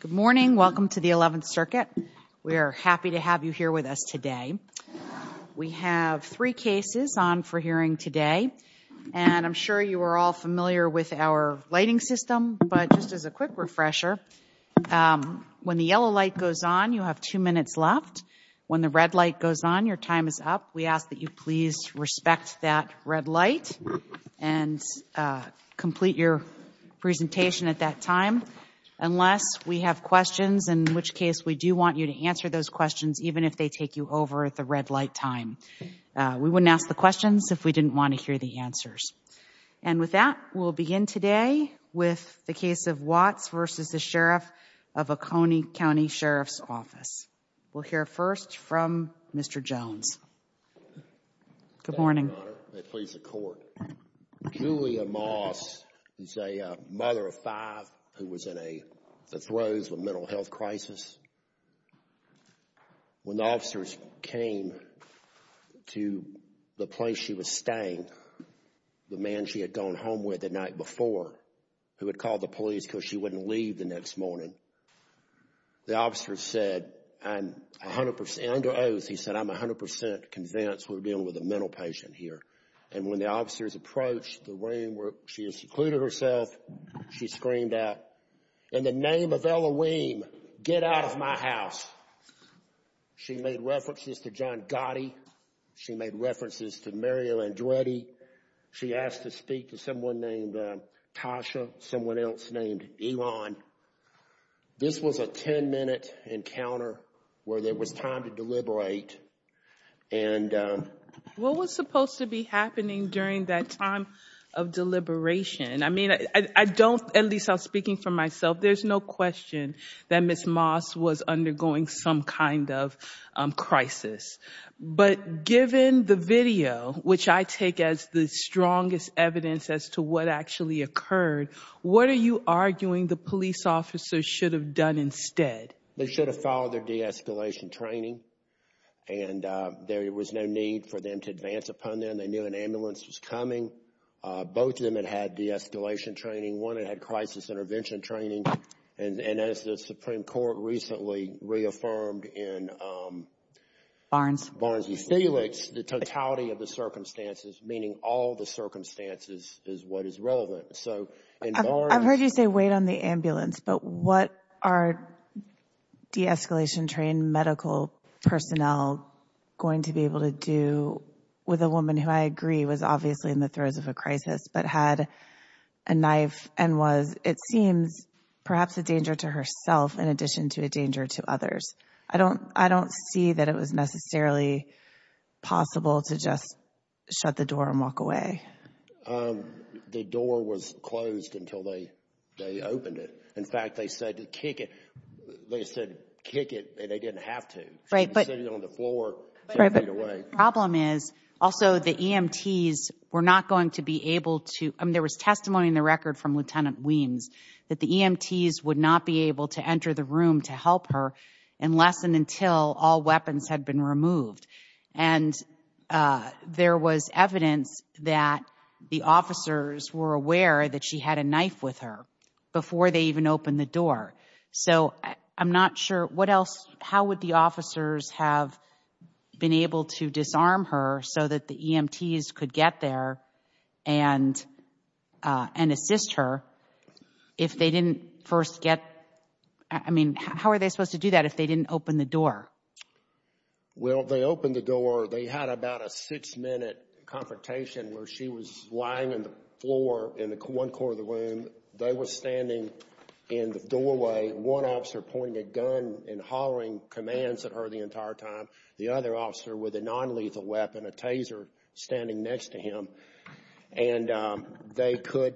Good morning. Welcome to the 11th Circuit. We are happy to have you here with us today. We have three cases on for hearing today, and I'm sure you are all familiar with our lighting system, but just as a quick refresher, when the yellow light goes on, you have two minutes left. When the red light goes on, your time is up. We ask that you please respect that red light and complete your presentation at that time, unless we have questions, in which case we do want you to answer those questions, even if they take you over at the red light time. We wouldn't ask the questions if we didn't want to hear the answers. And with that, we'll begin today with the case of Watts v. Sheriff of Oconee County Sheriff's Office. We'll hear first from Mr. Jones. Good morning, Your Honor. May it please the Court. Julia Moss is a mother of five who was in the throes of a mental health crisis. When the officers came to the place she was staying, the man she had gone home with the night before, who had called the police because she wouldn't leave the next morning, the officer said, under oath, he said, I'm 100 percent convinced we're dealing with a mental patient here. And when the officers approached the room where she had secluded herself, she screamed out, in the name of Elohim, get out of my house. She made references to John Gotti. She made references to Mario Andretti. She asked to speak to someone named Tasha, someone else named Ilan. This was a 10-minute encounter where there was time to deliberate. What was supposed to be happening during that time of deliberation? I mean, I don't, at least I'm speaking for myself, there's no question that Ms. Moss was undergoing some kind of crisis. But given the video, which I take as the strongest evidence as to what actually occurred, what are you arguing the police officers should have done instead? They should have followed their de-escalation training. And there was no need for them to advance upon them. They knew an ambulance was coming. Both of them had had de-escalation training. One had had crisis intervention training. And as the Supreme Court recently reaffirmed in Barnes v. Felix, the totality of the circumstances, meaning all the circumstances, is what is relevant. I've heard you say wait on the ambulance, but what are de-escalation trained medical personnel going to be able to do with a woman who I agree was obviously in the throes of a crisis, but had a knife and was, it seems, perhaps a danger to herself in addition to a danger to others? I don't, I don't see that it was necessarily possible to just shut the door and walk away. The door was closed until they opened it. In fact, they said to kick it. They said kick it and they didn't have to. Right, but She was sitting on the floor. Right, but the problem is also the EMTs were not going to be able to, I mean, there was testimony in the record from Lieutenant Weems that the EMTs would not be able to enter the room to help her unless and until all weapons had been removed. And there was evidence that the officers were aware that she had a knife with her before they even opened the door. So I'm not sure what else, how would the officers have been able to disarm her so that the EMTs could get there and, and assist her if they didn't first get, I mean, how are they supposed to do that if they didn't open the door? Well, they opened the door. They had about a six minute confrontation where she was lying on the floor in one corner of the room. They were standing in the doorway, one officer pointing a gun and hollering commands at her the entire time. The other officer with a non-lethal weapon, a taser, standing next to him. And they could,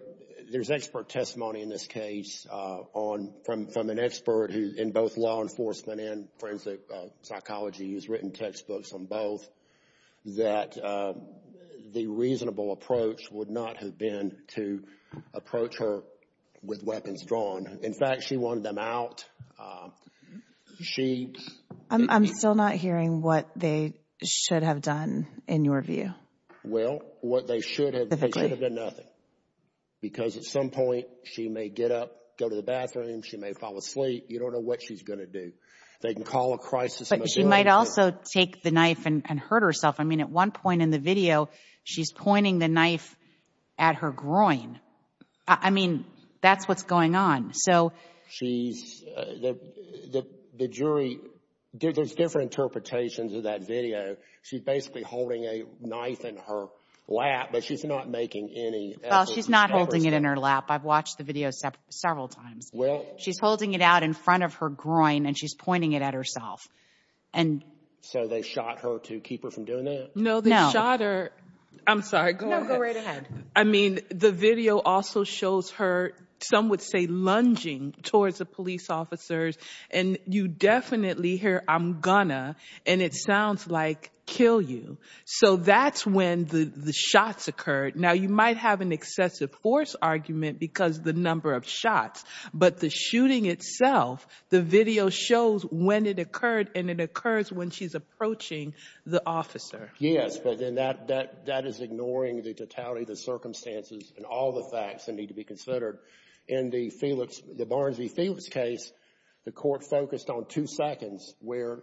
there's expert testimony in this case on, from, from an expert who, in both law enforcement and forensic psychology has written textbooks on both, that the reasonable approach would not have been to approach her with weapons drawn. In fact, she wanted them out. She I'm, I'm still not hearing what they should have done in your view. Well, what they should have, they should have done nothing. Because at some point she may get up, go to the bathroom, she may fall asleep. You don't know what she's going to do. They can call a crisis. But she might also take the knife and hurt herself. I mean, at one point in the video, she's pointing the knife at her groin. I mean, that's what's going on. So she's, the, the, the jury, there's different interpretations of that video. She's basically holding a knife in her lap, but she's not making any effort to stab herself. Well, she's not holding it in her lap. I've watched the video several times. Well. She's holding it out in front of her groin and she's pointing it at herself. And. So they shot her to keep her from doing that? No, they shot her. I'm sorry, go ahead. No, go right ahead. I mean, the video also shows her, some would say lunging towards the police officers. And you definitely hear, I'm gonna, and it sounds like kill you. So that's when the, the shots occurred. Now you might have an excessive force argument because the number of shots, but the shooting itself, the video shows when it occurred and it occurs when she's approaching the officer. Yes, but then that, that, that is ignoring the totality of the circumstances and all the facts that need to be considered. In the Felix, the Barnsley-Felix case, the court focused on two seconds where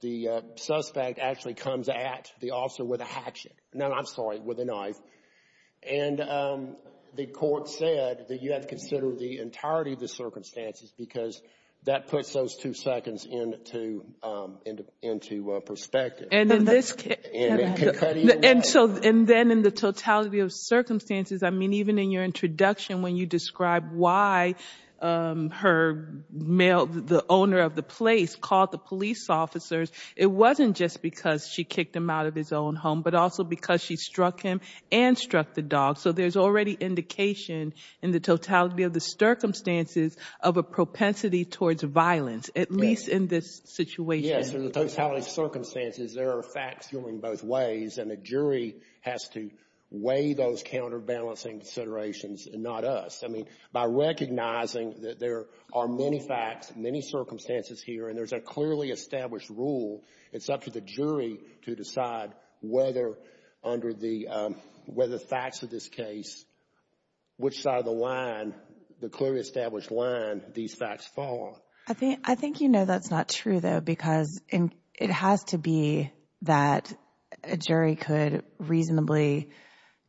the suspect actually comes at the officer with a hatchet. No, I'm sorry, with a knife. And the court said that you have to consider the entirety of the circumstances because that puts those two seconds into, into, into perspective. And in this case, and so, and then in the totality of circumstances, I mean, even in your introduction, when you describe why her male, the owner of the place called the police officers, it wasn't just because she kicked him out of his own home, but also because she struck him and struck the dog. So there's already indication in the totality of the circumstances of a propensity towards violence, at least in this situation. Yes, in the totality of circumstances, there are facts going both ways, and the jury has to weigh those counterbalancing considerations and not us. I mean, by recognizing that there are many facts, many circumstances here, and there's a clearly established rule, it's up to the jury to decide whether under the, whether the facts of this case, which side of the line, the clearly established line these facts fall on. I think, I think, you know, that's not true though, because it has to be that a jury could reasonably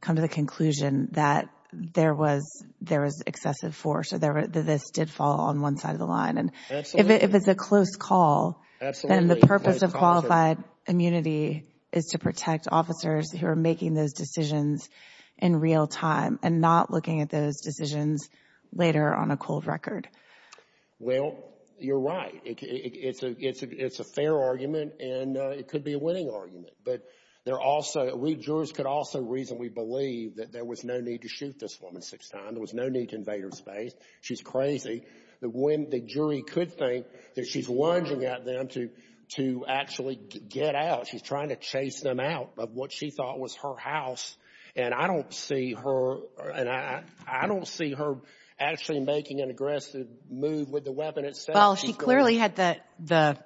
come to the conclusion that there was, there was excessive force, or this did fall on one side of the line. And if it's a close call, then the purpose of qualified immunity is to protect officers who are making those decisions in real time and not looking at those decisions later on a cold record. Well, you're right. It's a, it's a, it's a fair argument, and it could be a winning argument. But there also, we, jurors could also reasonably believe that there was no need to shoot this woman six times. There was no need to invade her space. She's crazy. But when the jury could think that she's lunging at them to, to actually get out, she's trying to chase them out of what she thought was her house. And I don't see her, and I don't see her trying to move with the weapon itself. Well, she clearly had the, the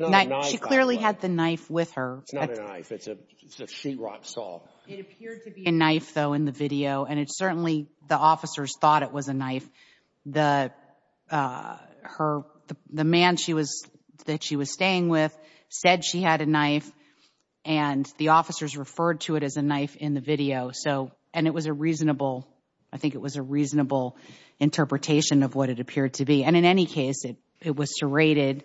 knife, she clearly had the knife with her. It's not a knife. It's a, it's a sheetrock saw. It appeared to be a knife though, in the video. And it's certainly, the officers thought it was a knife. The, her, the man she was, that she was staying with said she had a knife and the officers referred to it as a knife in the video. So, and it was a reasonable, I think it was a reasonable interpretation of what it appeared to be. And in any case, it, it was serrated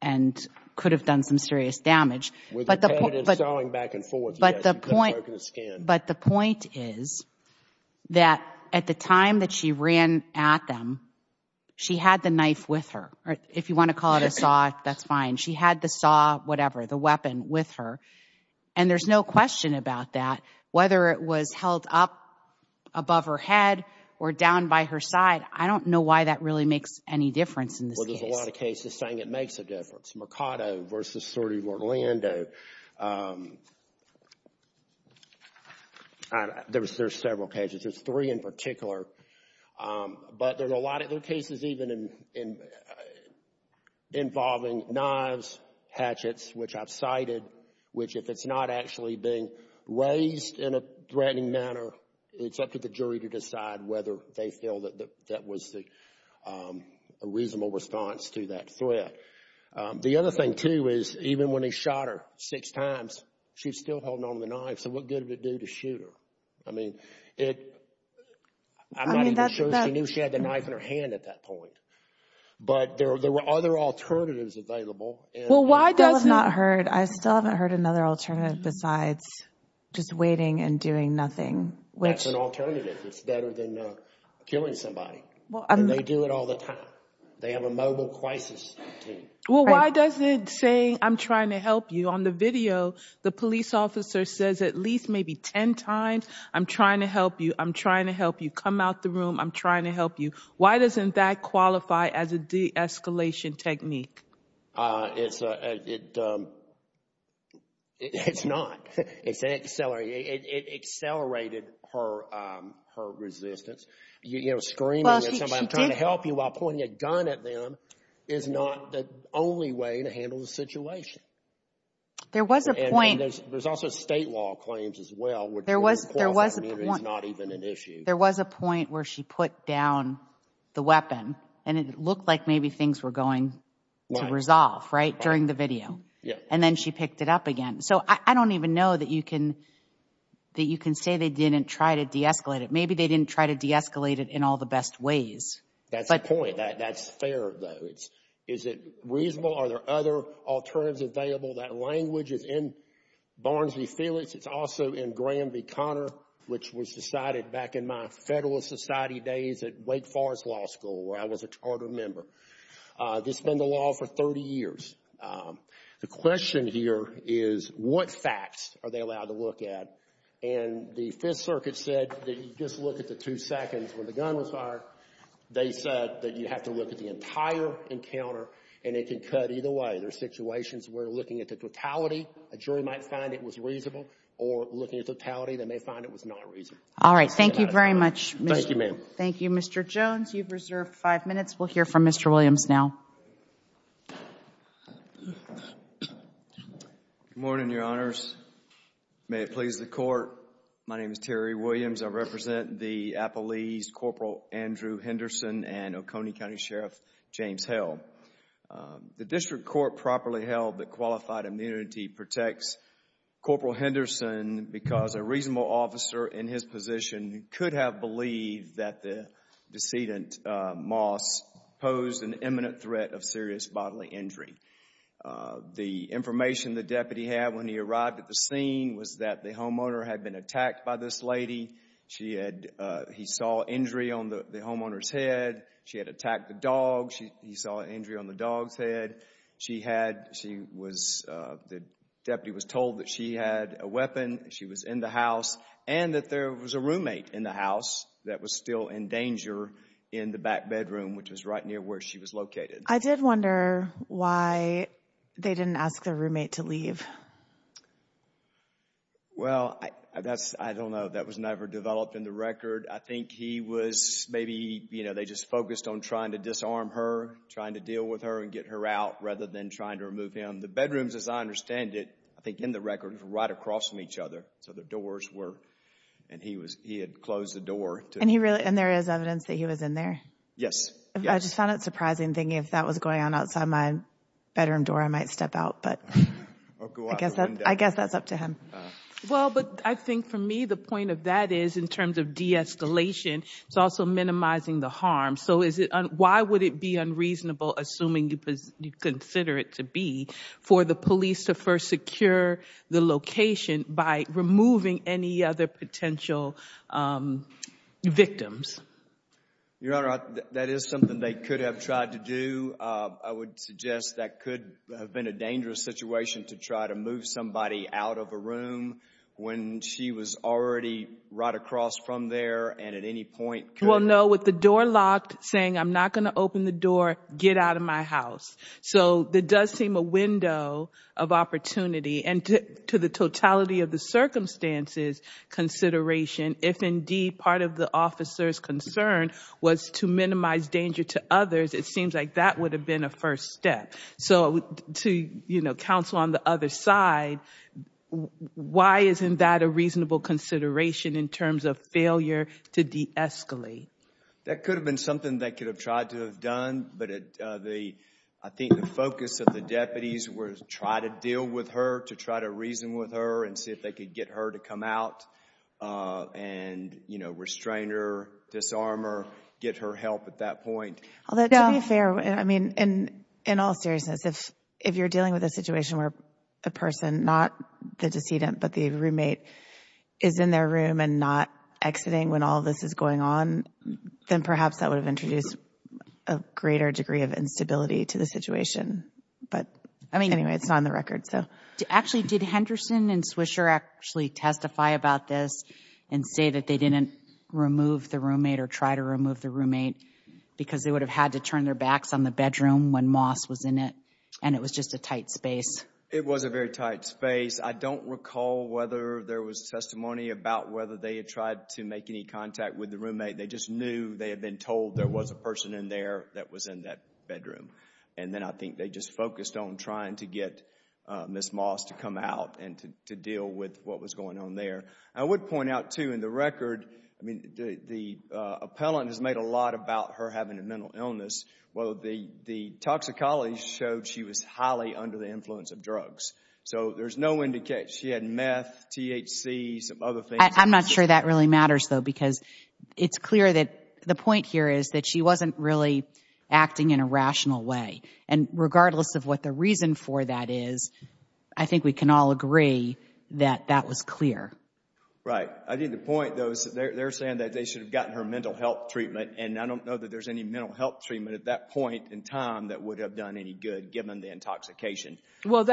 and could have done some serious damage. With the evidence going back and forth, yes, you could have broken the skin. But the point, but the point is that at the time that she ran at them, she had the knife with her. If you want to call it a saw, that's fine. She had the saw, whatever, the weapon with her. And there's no question about that. Whether it was held up above her head or down by her side, I don't know why that really makes any difference in this case. Well, there's a lot of cases saying it makes a difference. Mercado versus Sorte Orlando. There was, there's several cases. There's three in particular. But there's a lot of, cases even involving knives, hatchets, which I've cited, which if it's not actually being raised in a threatening manner, it's up to the jury to decide whether they feel that that was a reasonable response to that threat. The other thing, too, is even when he shot her six times, she's still holding on to the knife. So what good did it do to shoot her? I mean, it, I'm not even sure she knew she had the knife in her hand at that point. But there were other alternatives available. Well, why doesn't- I still have not heard, I still haven't heard another alternative besides just waiting and doing nothing, which- That's an alternative. It's better than killing somebody. And they do it all the time. They have a mobile crisis team. Well, why does it say, I'm trying to help you? On the video, the police officer says at least maybe 10 times, I'm trying to help you. I'm trying to help you. Come out the room. I'm trying to help you. Why doesn't that qualify as a de-escalation technique? It's a, it, it's not. It's an accelerated, it accelerated her resistance. You know, screaming at somebody trying to help you while pointing a gun at them is not the only way to handle the situation. There was a point- There's also state law claims as well. There was a point where she put down the weapon and it looked like maybe things were going to resolve, right, during the video. And then she picked it up again. So I don't even know that you can, that you can say they didn't try to de-escalate it. Maybe they didn't try to de-escalate it in all the best ways. That's the point. That's fair though. Is it reasonable? Are there other alternatives available? That language is in Barnes v. Felix. It's also in Graham v. Connor, which was decided back in my Federalist Society days at Wake Forest Law School, where I was a charter member. This has been the law for 30 years. The question here is what facts are they allowed to look at? And the Fifth Circuit said that you just look at the two seconds when the gun was fired. They said that you have to look at the encounter and it can cut either way. There are situations where looking at the totality, a jury might find it was reasonable, or looking at totality, they may find it was not reasonable. All right. Thank you very much. Thank you, ma'am. Thank you, Mr. Jones. You've reserved five minutes. We'll hear from Mr. Williams now. Good morning, Your Honors. May it please the Court. My name is Terry Williams. I represent the appellees Corporal Andrew Henderson and Oconee County Sheriff James Hill. The District Court properly held that qualified immunity protects Corporal Henderson because a reasonable officer in his position could have believed that the decedent, Moss, posed an imminent threat of serious bodily injury. The information the deputy had when he arrived at the scene was that the homeowner had been attacked by this lady. He saw injury on the homeowner's head. She had attacked the dog. He saw an injury on the dog's head. The deputy was told that she had a weapon, she was in the house, and that there was a roommate in the house that was still in danger in the back bedroom, which was right near where she was located. I did wonder why they didn't ask their roommate to leave. Well, that's, I don't know. That was never developed in the record. I think he was, maybe, you know, they just focused on trying to disarm her, trying to deal with her and get her out, rather than trying to remove him. The bedrooms, as I understand it, I think in the record, were right across from each other, so the doors were, and he was, he had closed the door. And he really, and there is evidence that he was in there? Yes. I just found it surprising thinking if that was going on outside my bedroom door, I might step out, but. I guess that's up to him. Well, but I think for me, the point of that is, in terms of de-escalation, it's also minimizing the harm. So is it, why would it be unreasonable, assuming you consider it to be, for the police to first secure the location by removing any other potential victims? Your Honor, that is something they could have tried to do. I would suggest that could have been a dangerous situation to try to move somebody out of a room when she was already right across from there and at any point could have. But with the door locked, saying, I'm not going to open the door, get out of my house. So that does seem a window of opportunity. And to the totality of the circumstances consideration, if indeed part of the officer's concern was to minimize danger to others, it seems like that would have been a first step. So to counsel on the other side, why isn't that a reasonable consideration in terms of failure to de-escalate? That could have been something they could have tried to have done. But I think the focus of the deputies were to try to deal with her, to try to reason with her and see if they could get her to come out and restrain her, disarm her, get her help at that point. Although to be fair, I mean, in all seriousness, if you're dealing with a situation where a person, not the decedent, but the roommate is in their room and not exiting when all this is going on, then perhaps that would have introduced a greater degree of instability to the situation. But anyway, it's not on the record. So actually, did Henderson and Swisher actually testify about this and say that they didn't remove the roommate or try to remove the roommate because they would have had to turn their backs on the bedroom when Moss was in it and it was just a tight space? It was a very tight space. I don't recall whether there was testimony about whether they had tried to make any contact with the roommate. They just knew they had been told there was a person in there that was in that bedroom. And then I think they just focused on trying to get Ms. Moss to come out and to deal with what was going on there. I would point out, too, in the record, I mean, the appellant has made a lot about her having a mental illness. Well, the toxicology showed she was highly under the influence of drugs. So there's no indication she had meth, THC, some other things. I'm not sure that really matters, though, because it's clear that the point here is that she wasn't really acting in a rational way. And regardless of what the reason for that is, I think we can all agree that that was clear. Right. I think the point, though, is that they're saying that they should have gotten her mental health treatment. And I don't know that there's any mental health treatment at that point in time that would have done any good given the intoxication. Well,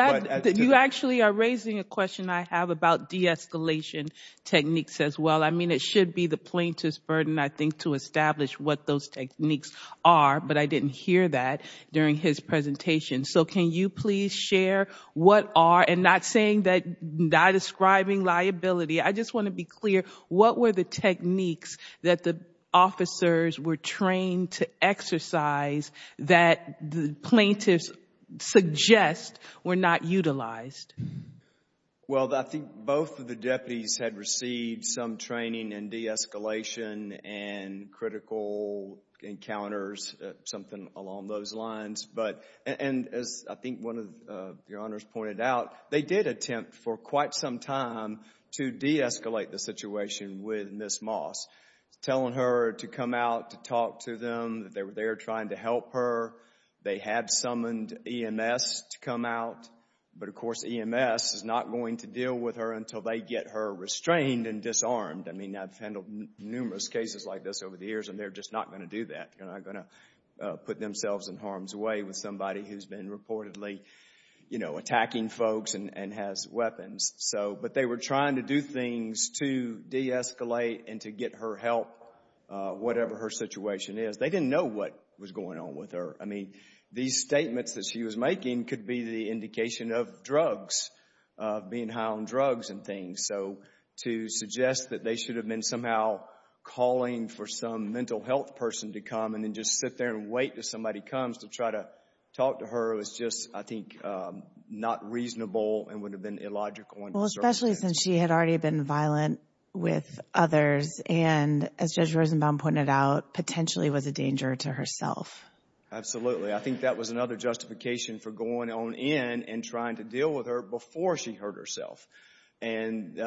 you actually are raising a question I have about de-escalation techniques as well. I mean, it should be the plaintiff's burden, I think, to establish what those techniques are, but I didn't hear that during his presentation. So can you please share what are, and not saying that I'm describing liability, I just want to be clear, what were the techniques that the officers were trained to exercise that the plaintiffs suggest were not utilized? Well, I think both of the deputies had received some training in de-escalation and critical encounters, something along those lines. And as I think one of your honors pointed out, they did attempt for quite some time to de-escalate the situation with Ms. Moss, telling her to come out to talk to them, that they were there trying to help her. They had summoned EMS to come out, but of course EMS is not going to deal with her until they get her restrained and disarmed. I mean, I've handled numerous cases like this over the years, and they're just not going to do that. They're not going to put themselves in harm's way with somebody who's been reportedly, you know, attacking folks and has weapons. But they were trying to do things to de-escalate and to get her help, whatever her situation is. They didn't know what was going on with her. I mean, these statements that she was making could be the indication of drugs, of being high on drugs and things. And so to suggest that they should have been somehow calling for some mental health person to come and then just sit there and wait till somebody comes to try to talk to her was just, I think, not reasonable and would have been illogical. Well, especially since she had already been violent with others and, as Judge Rosenbaum pointed out, potentially was a danger to herself. Absolutely. I think that was another justification for going on in and trying to deal with her before she hurt herself. And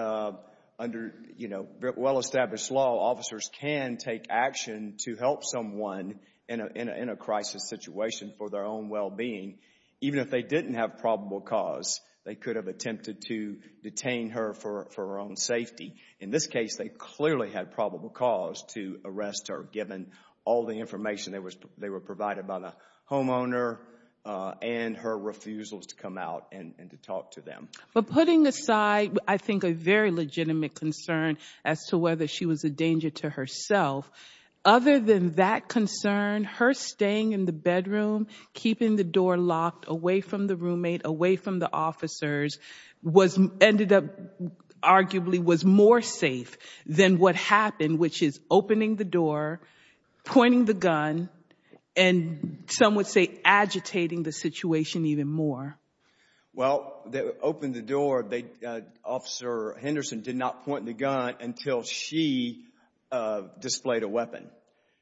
under, you know, well-established law, officers can take action to help someone in a crisis situation for their own well-being. Even if they didn't have probable cause, they could have attempted to detain her for her own safety. In this case, they clearly had probable cause to arrest her, given all the information they were provided by the homeowner and her refusals to come out and to talk to them. But putting aside, I think, a very legitimate concern as to whether she was a danger to herself, other than that concern, her staying in the bedroom, keeping the door locked away from the roommate, away from the officers, was ended up arguably was more safe than what happened, which is opening the door, pointing the gun and some would say agitating the situation even more. Well, they opened the door. Officer Henderson did not point the gun until she displayed a weapon.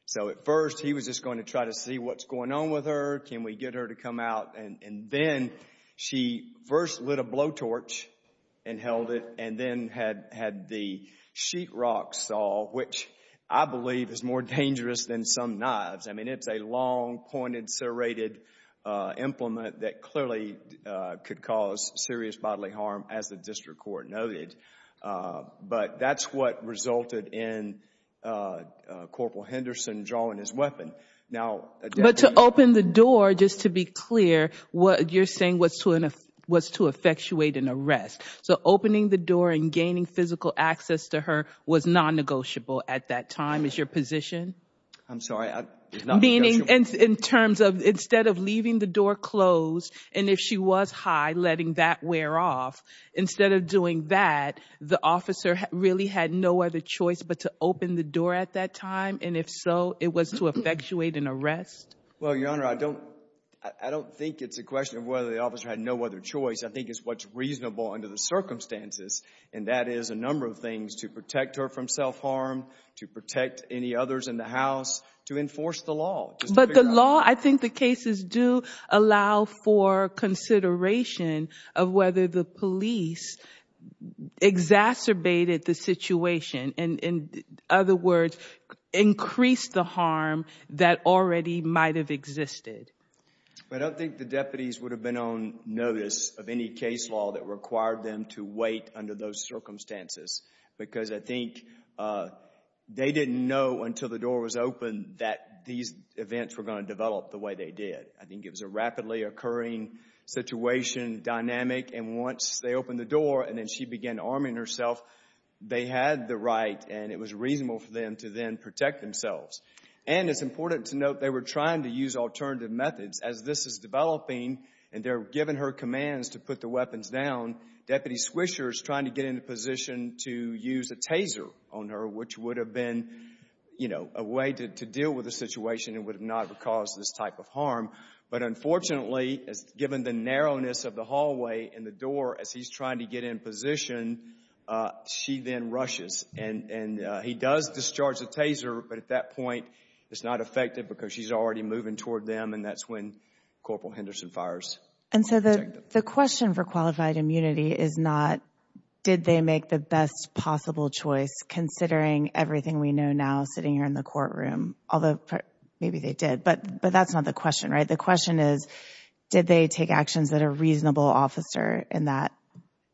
So at first, he was just going to try to see what's going on with her. Can we get her to come out? And then she first lit a blowtorch and held it and then had the sheetrock saw, which I believe is more dangerous than some knives. I mean, it's a long pointed, serrated implement that clearly could cause serious bodily harm, as the district court noted. But that's what resulted in Corporal Henderson drawing his weapon. But to open the door, just to be clear, what you're saying was to effectuate an arrest. So opening the door and gaining physical access to her was non-negotiable at that time. Is your position? I'm sorry. Meaning in terms of instead of leaving the door closed and if she was high, letting that wear off, instead of doing that, the officer really had no other choice but to open the door at that time. And if so, it was to effectuate an arrest. Well, Your Honor, I don't I don't think it's a question of whether the officer had no other choice. I think it's what's reasonable under the circumstances. And that is a number of things to protect her from self-harm, to protect any others in the house, to enforce the law. But the law, I think the cases do allow for consideration of whether the police exacerbated the situation. In other words, increased the harm that already might have existed. I don't think the deputies would have been on notice of any case law that required them to wait under those circumstances. Because I think they didn't know until the door was open that these events were going to develop the way they did. I think it was a rapidly occurring situation, dynamic, and once they opened the door and then she began arming herself, they had the right and it was reasonable for them to then protect themselves. And it's important to note they were trying to use alternative methods as this is developing. And they're giving her commands to put the weapons down. Deputy Swisher is trying to get into position to use a taser on her, which would have been, you know, a way to deal with the situation and would not have caused this type of harm. But unfortunately, given the narrowness of the hallway and the door as he's trying to get in position, she then rushes. And he does discharge the taser. But at that point, it's not effective because she's already moving toward them. And that's when Corporal Henderson fires. And so the question for qualified immunity is not, did they make the best possible choice considering everything we know now sitting here in the courtroom? Although maybe they did, but that's not the question, right? The question is, did they take actions that a reasonable officer in that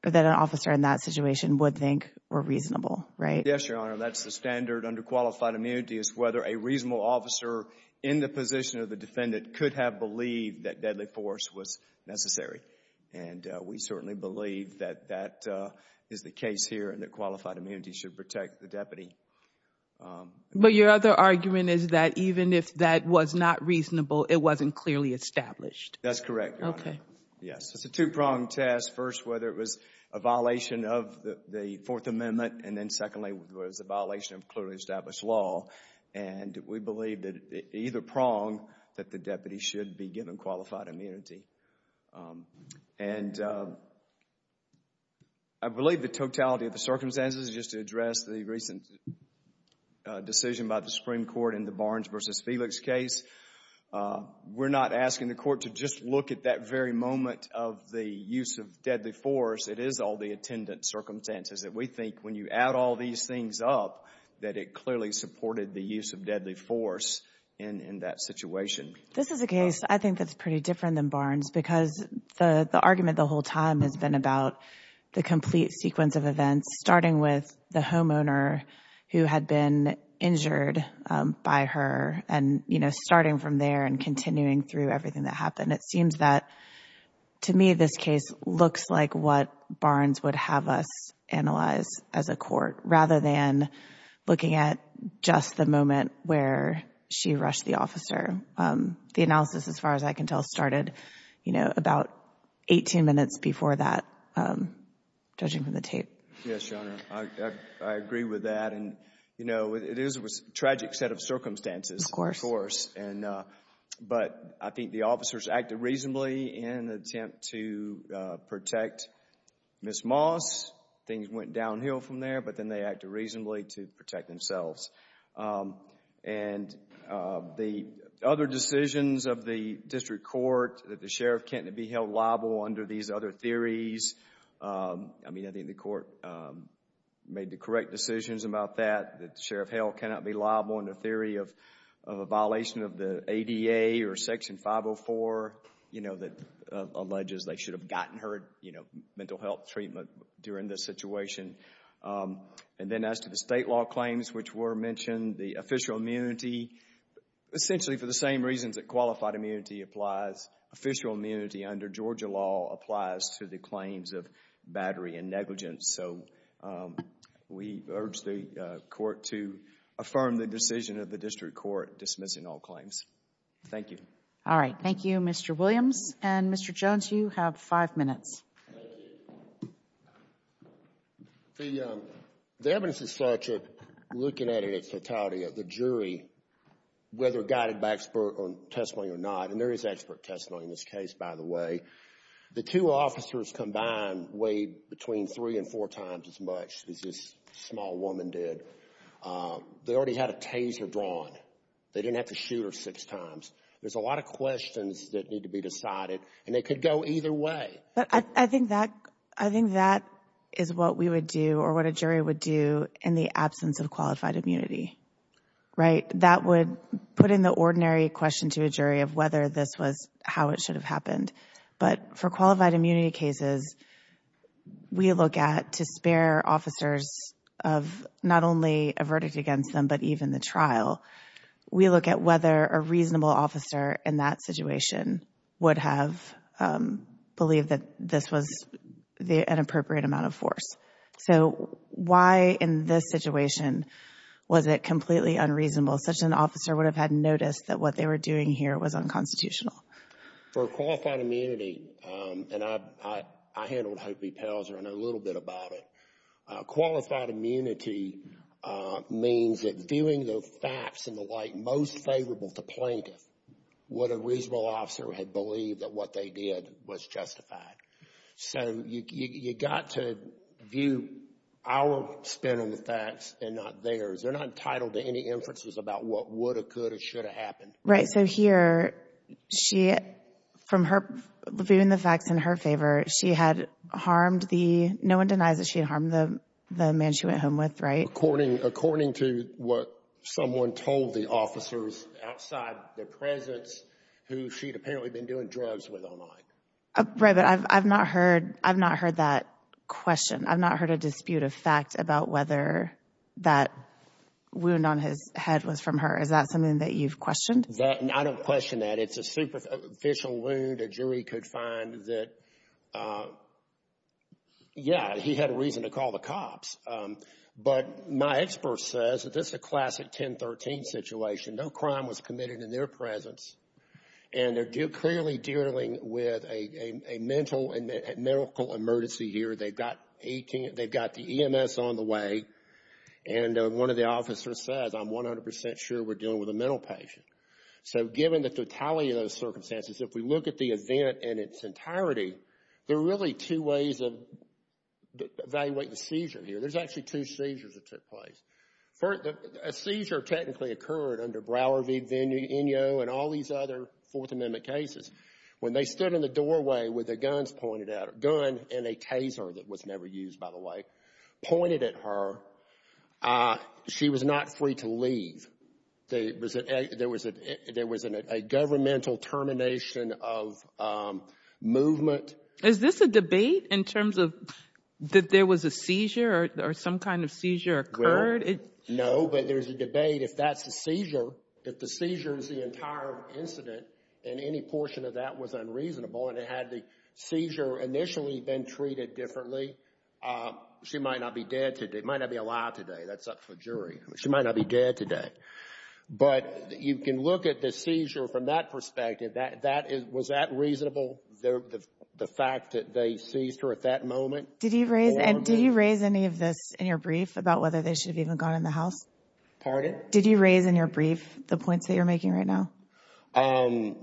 or that an officer in that situation would think were reasonable, right? Yes, Your Honor. That's the standard under qualified immunity is whether a reasonable officer in the position of the defendant could have believed that deadly force was necessary. And we certainly believe that that is the case here and that qualified immunity should protect the deputy. But your other argument is that even if that was not reasonable, it wasn't clearly established. That's correct, Your Honor. Okay. Yes, it's a two-pronged test. First, whether it was a violation of the Fourth Amendment. And then secondly, whether it was a violation of clearly established law. And we believe that either prong that the deputy should be given qualified immunity. And I believe the totality of the circumstances, just to address the recent decision by the Supreme Court in the Barnes v. Felix case, we're not asking the court to just look at that very moment of the use of deadly force. It is all the attendant circumstances that we think when you add all these things up, that it clearly supported the use of deadly force in that situation. This is a case I think that's pretty different than Barnes because the argument the whole time has been about the complete sequence of events, starting with the homeowner who had been injured by her and, you know, starting from there and continuing through everything that happened. And it seems that, to me, this case looks like what Barnes would have us analyze as a court, rather than looking at just the moment where she rushed the officer. The analysis, as far as I can tell, started, you know, about 18 minutes before that, judging from the tape. Yes, Your Honor. I agree with that. And, you know, it is a tragic set of circumstances. Of course. Of course. And, but I think the officers acted reasonably in an attempt to protect Ms. Moss. Things went downhill from there, but then they acted reasonably to protect themselves. And the other decisions of the district court, that the sheriff can't be held liable under these other theories, I mean, I think the court made the correct decisions about that. Sheriff Hale cannot be liable in the theory of a violation of the ADA or Section 504, you know, that alleges they should have gotten her, you know, mental health treatment during this situation. And then as to the state law claims, which were mentioned, the official immunity, essentially for the same reasons that qualified immunity applies. Official immunity under Georgia law applies to the claims of battery and negligence. So, we urge the court to affirm the decision of the district court dismissing all claims. Thank you. All right. Thank you, Mr. Williams. And Mr. Jones, you have five minutes. The evidence is structured, looking at it in totality, at the jury, whether guided by expert or testimony or not, and there is expert testimony in this case, by the way. The two officers combined weighed between three and four times as much as this small woman did. They already had a taser drawn. They didn't have to shoot her six times. There's a lot of questions that need to be decided, and they could go either way. But I think that, I think that is what we would do or what a jury would do in the absence of qualified immunity, right? That would put in the ordinary question to a jury of whether this was how it should have happened. But for qualified immunity cases, we look at to spare officers of not only a verdict against them, but even the trial. We look at whether a reasonable officer in that situation would have believed that this was an appropriate amount of force. So, why in this situation was it completely unreasonable? Such an officer would have had noticed that what they were doing here was unconstitutional. For qualified immunity, and I handled Hope B. Pelzer, I know a little bit about it. Qualified immunity means that viewing the facts and the like most favorable to plaintiff, what a reasonable officer had believed that what they did was justified. So, you got to view our spin on the facts and not theirs. They're not entitled to any inferences about what would have could or should have happened. Right, so here, she, from her viewing the facts in her favor, she had harmed the, no one denies that she harmed the man she went home with, right? According to what someone told the officers outside their presence, who she'd apparently been doing drugs with all night. Right, but I've not heard that question. I've not heard a dispute of fact about whether that wound on his head was from her. Is that something that you've questioned? I don't question that. It's a superficial wound. A jury could find that, yeah, he had a reason to call the cops. But my expert says that this is a classic 1013 situation. No crime was committed in their presence. And they're clearly dealing with a medical emergency here. They've got the EMS on the way. And one of the officers says, I'm 100% sure we're dealing with a mental patient. So given the totality of those circumstances, if we look at the event in its entirety, there are really two ways of evaluating the seizure here. There's actually two seizures that took place. First, a seizure technically occurred under Brower v. Vigno and all these other Fourth Amendment cases. When they stood in the doorway with a gun and a taser that was never used, by the way, pointed at her, she was not free to leave. There was a governmental termination of movement. Is this a debate in terms of that there was a seizure or some kind of seizure occurred? No, but there's a debate. If that's a seizure, if the seizure is the entire incident and any portion of that was unreasonable and it had the seizure initially been treated differently, she might not be dead today, might not be alive today. That's up for jury. She might not be dead today. But you can look at the seizure from that perspective. Was that reasonable, the fact that they seized her at that moment? Did you raise any of this in your brief about whether they should have even gone in the house? Pardon? Did you raise in your brief the points that you're making right now? I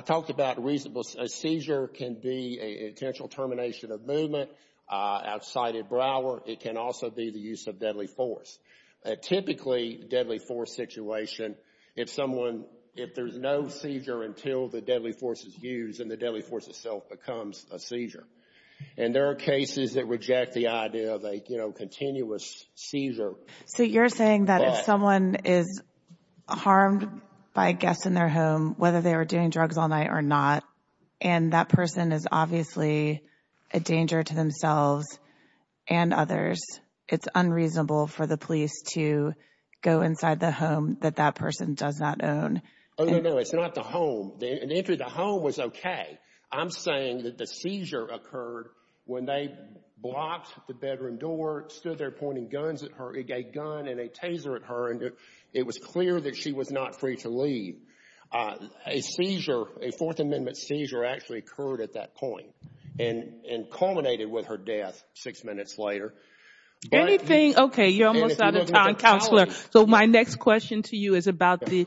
talked about reasonable. A seizure can be an intentional termination of movement outside of Brower. It can also be the use of deadly force. Typically, deadly force situation, if there's no seizure until the deadly force is used and the deadly force itself becomes a seizure. And there are cases that reject the idea of a continuous seizure. So you're saying that if someone is harmed by a guest in their home, whether they were doing drugs all night or not, and that person is obviously a danger to themselves and other it's unreasonable for the police to go inside the home that that person does not own. Oh, no, no. It's not the home. And if the home was OK, I'm saying that the seizure occurred when they blocked the bedroom door, stood there pointing guns at her, a gun and a taser at her. And it was clear that she was not free to leave. A seizure, a Fourth Amendment seizure actually occurred at that point and culminated with her death six minutes later. Anything. OK, you're almost out of time, Counselor. So my next question to you is about the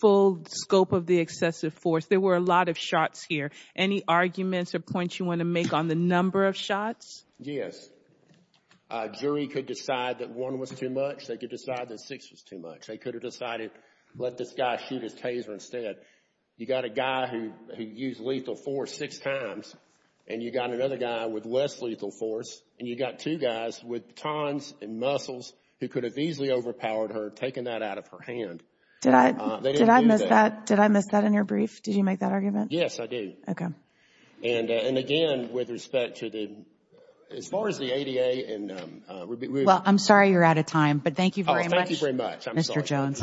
full scope of the excessive force. There were a lot of shots here. Any arguments or points you want to make on the number of shots? Yes, a jury could decide that one was too much. They could decide that six was too much. They could have decided, let this guy shoot his taser instead. You got a guy who used lethal force six times and you got another guy with less lethal force and you got two guys with tons and muscles who could have easily overpowered her taking that out of her hand. Did I miss that? Did I miss that in your brief? Did you make that argument? Yes, I did. And again, with respect to the as far as the ADA and. Well, I'm sorry you're out of time, but thank you very much. Thank you very much. Mr. Jones. Thank you.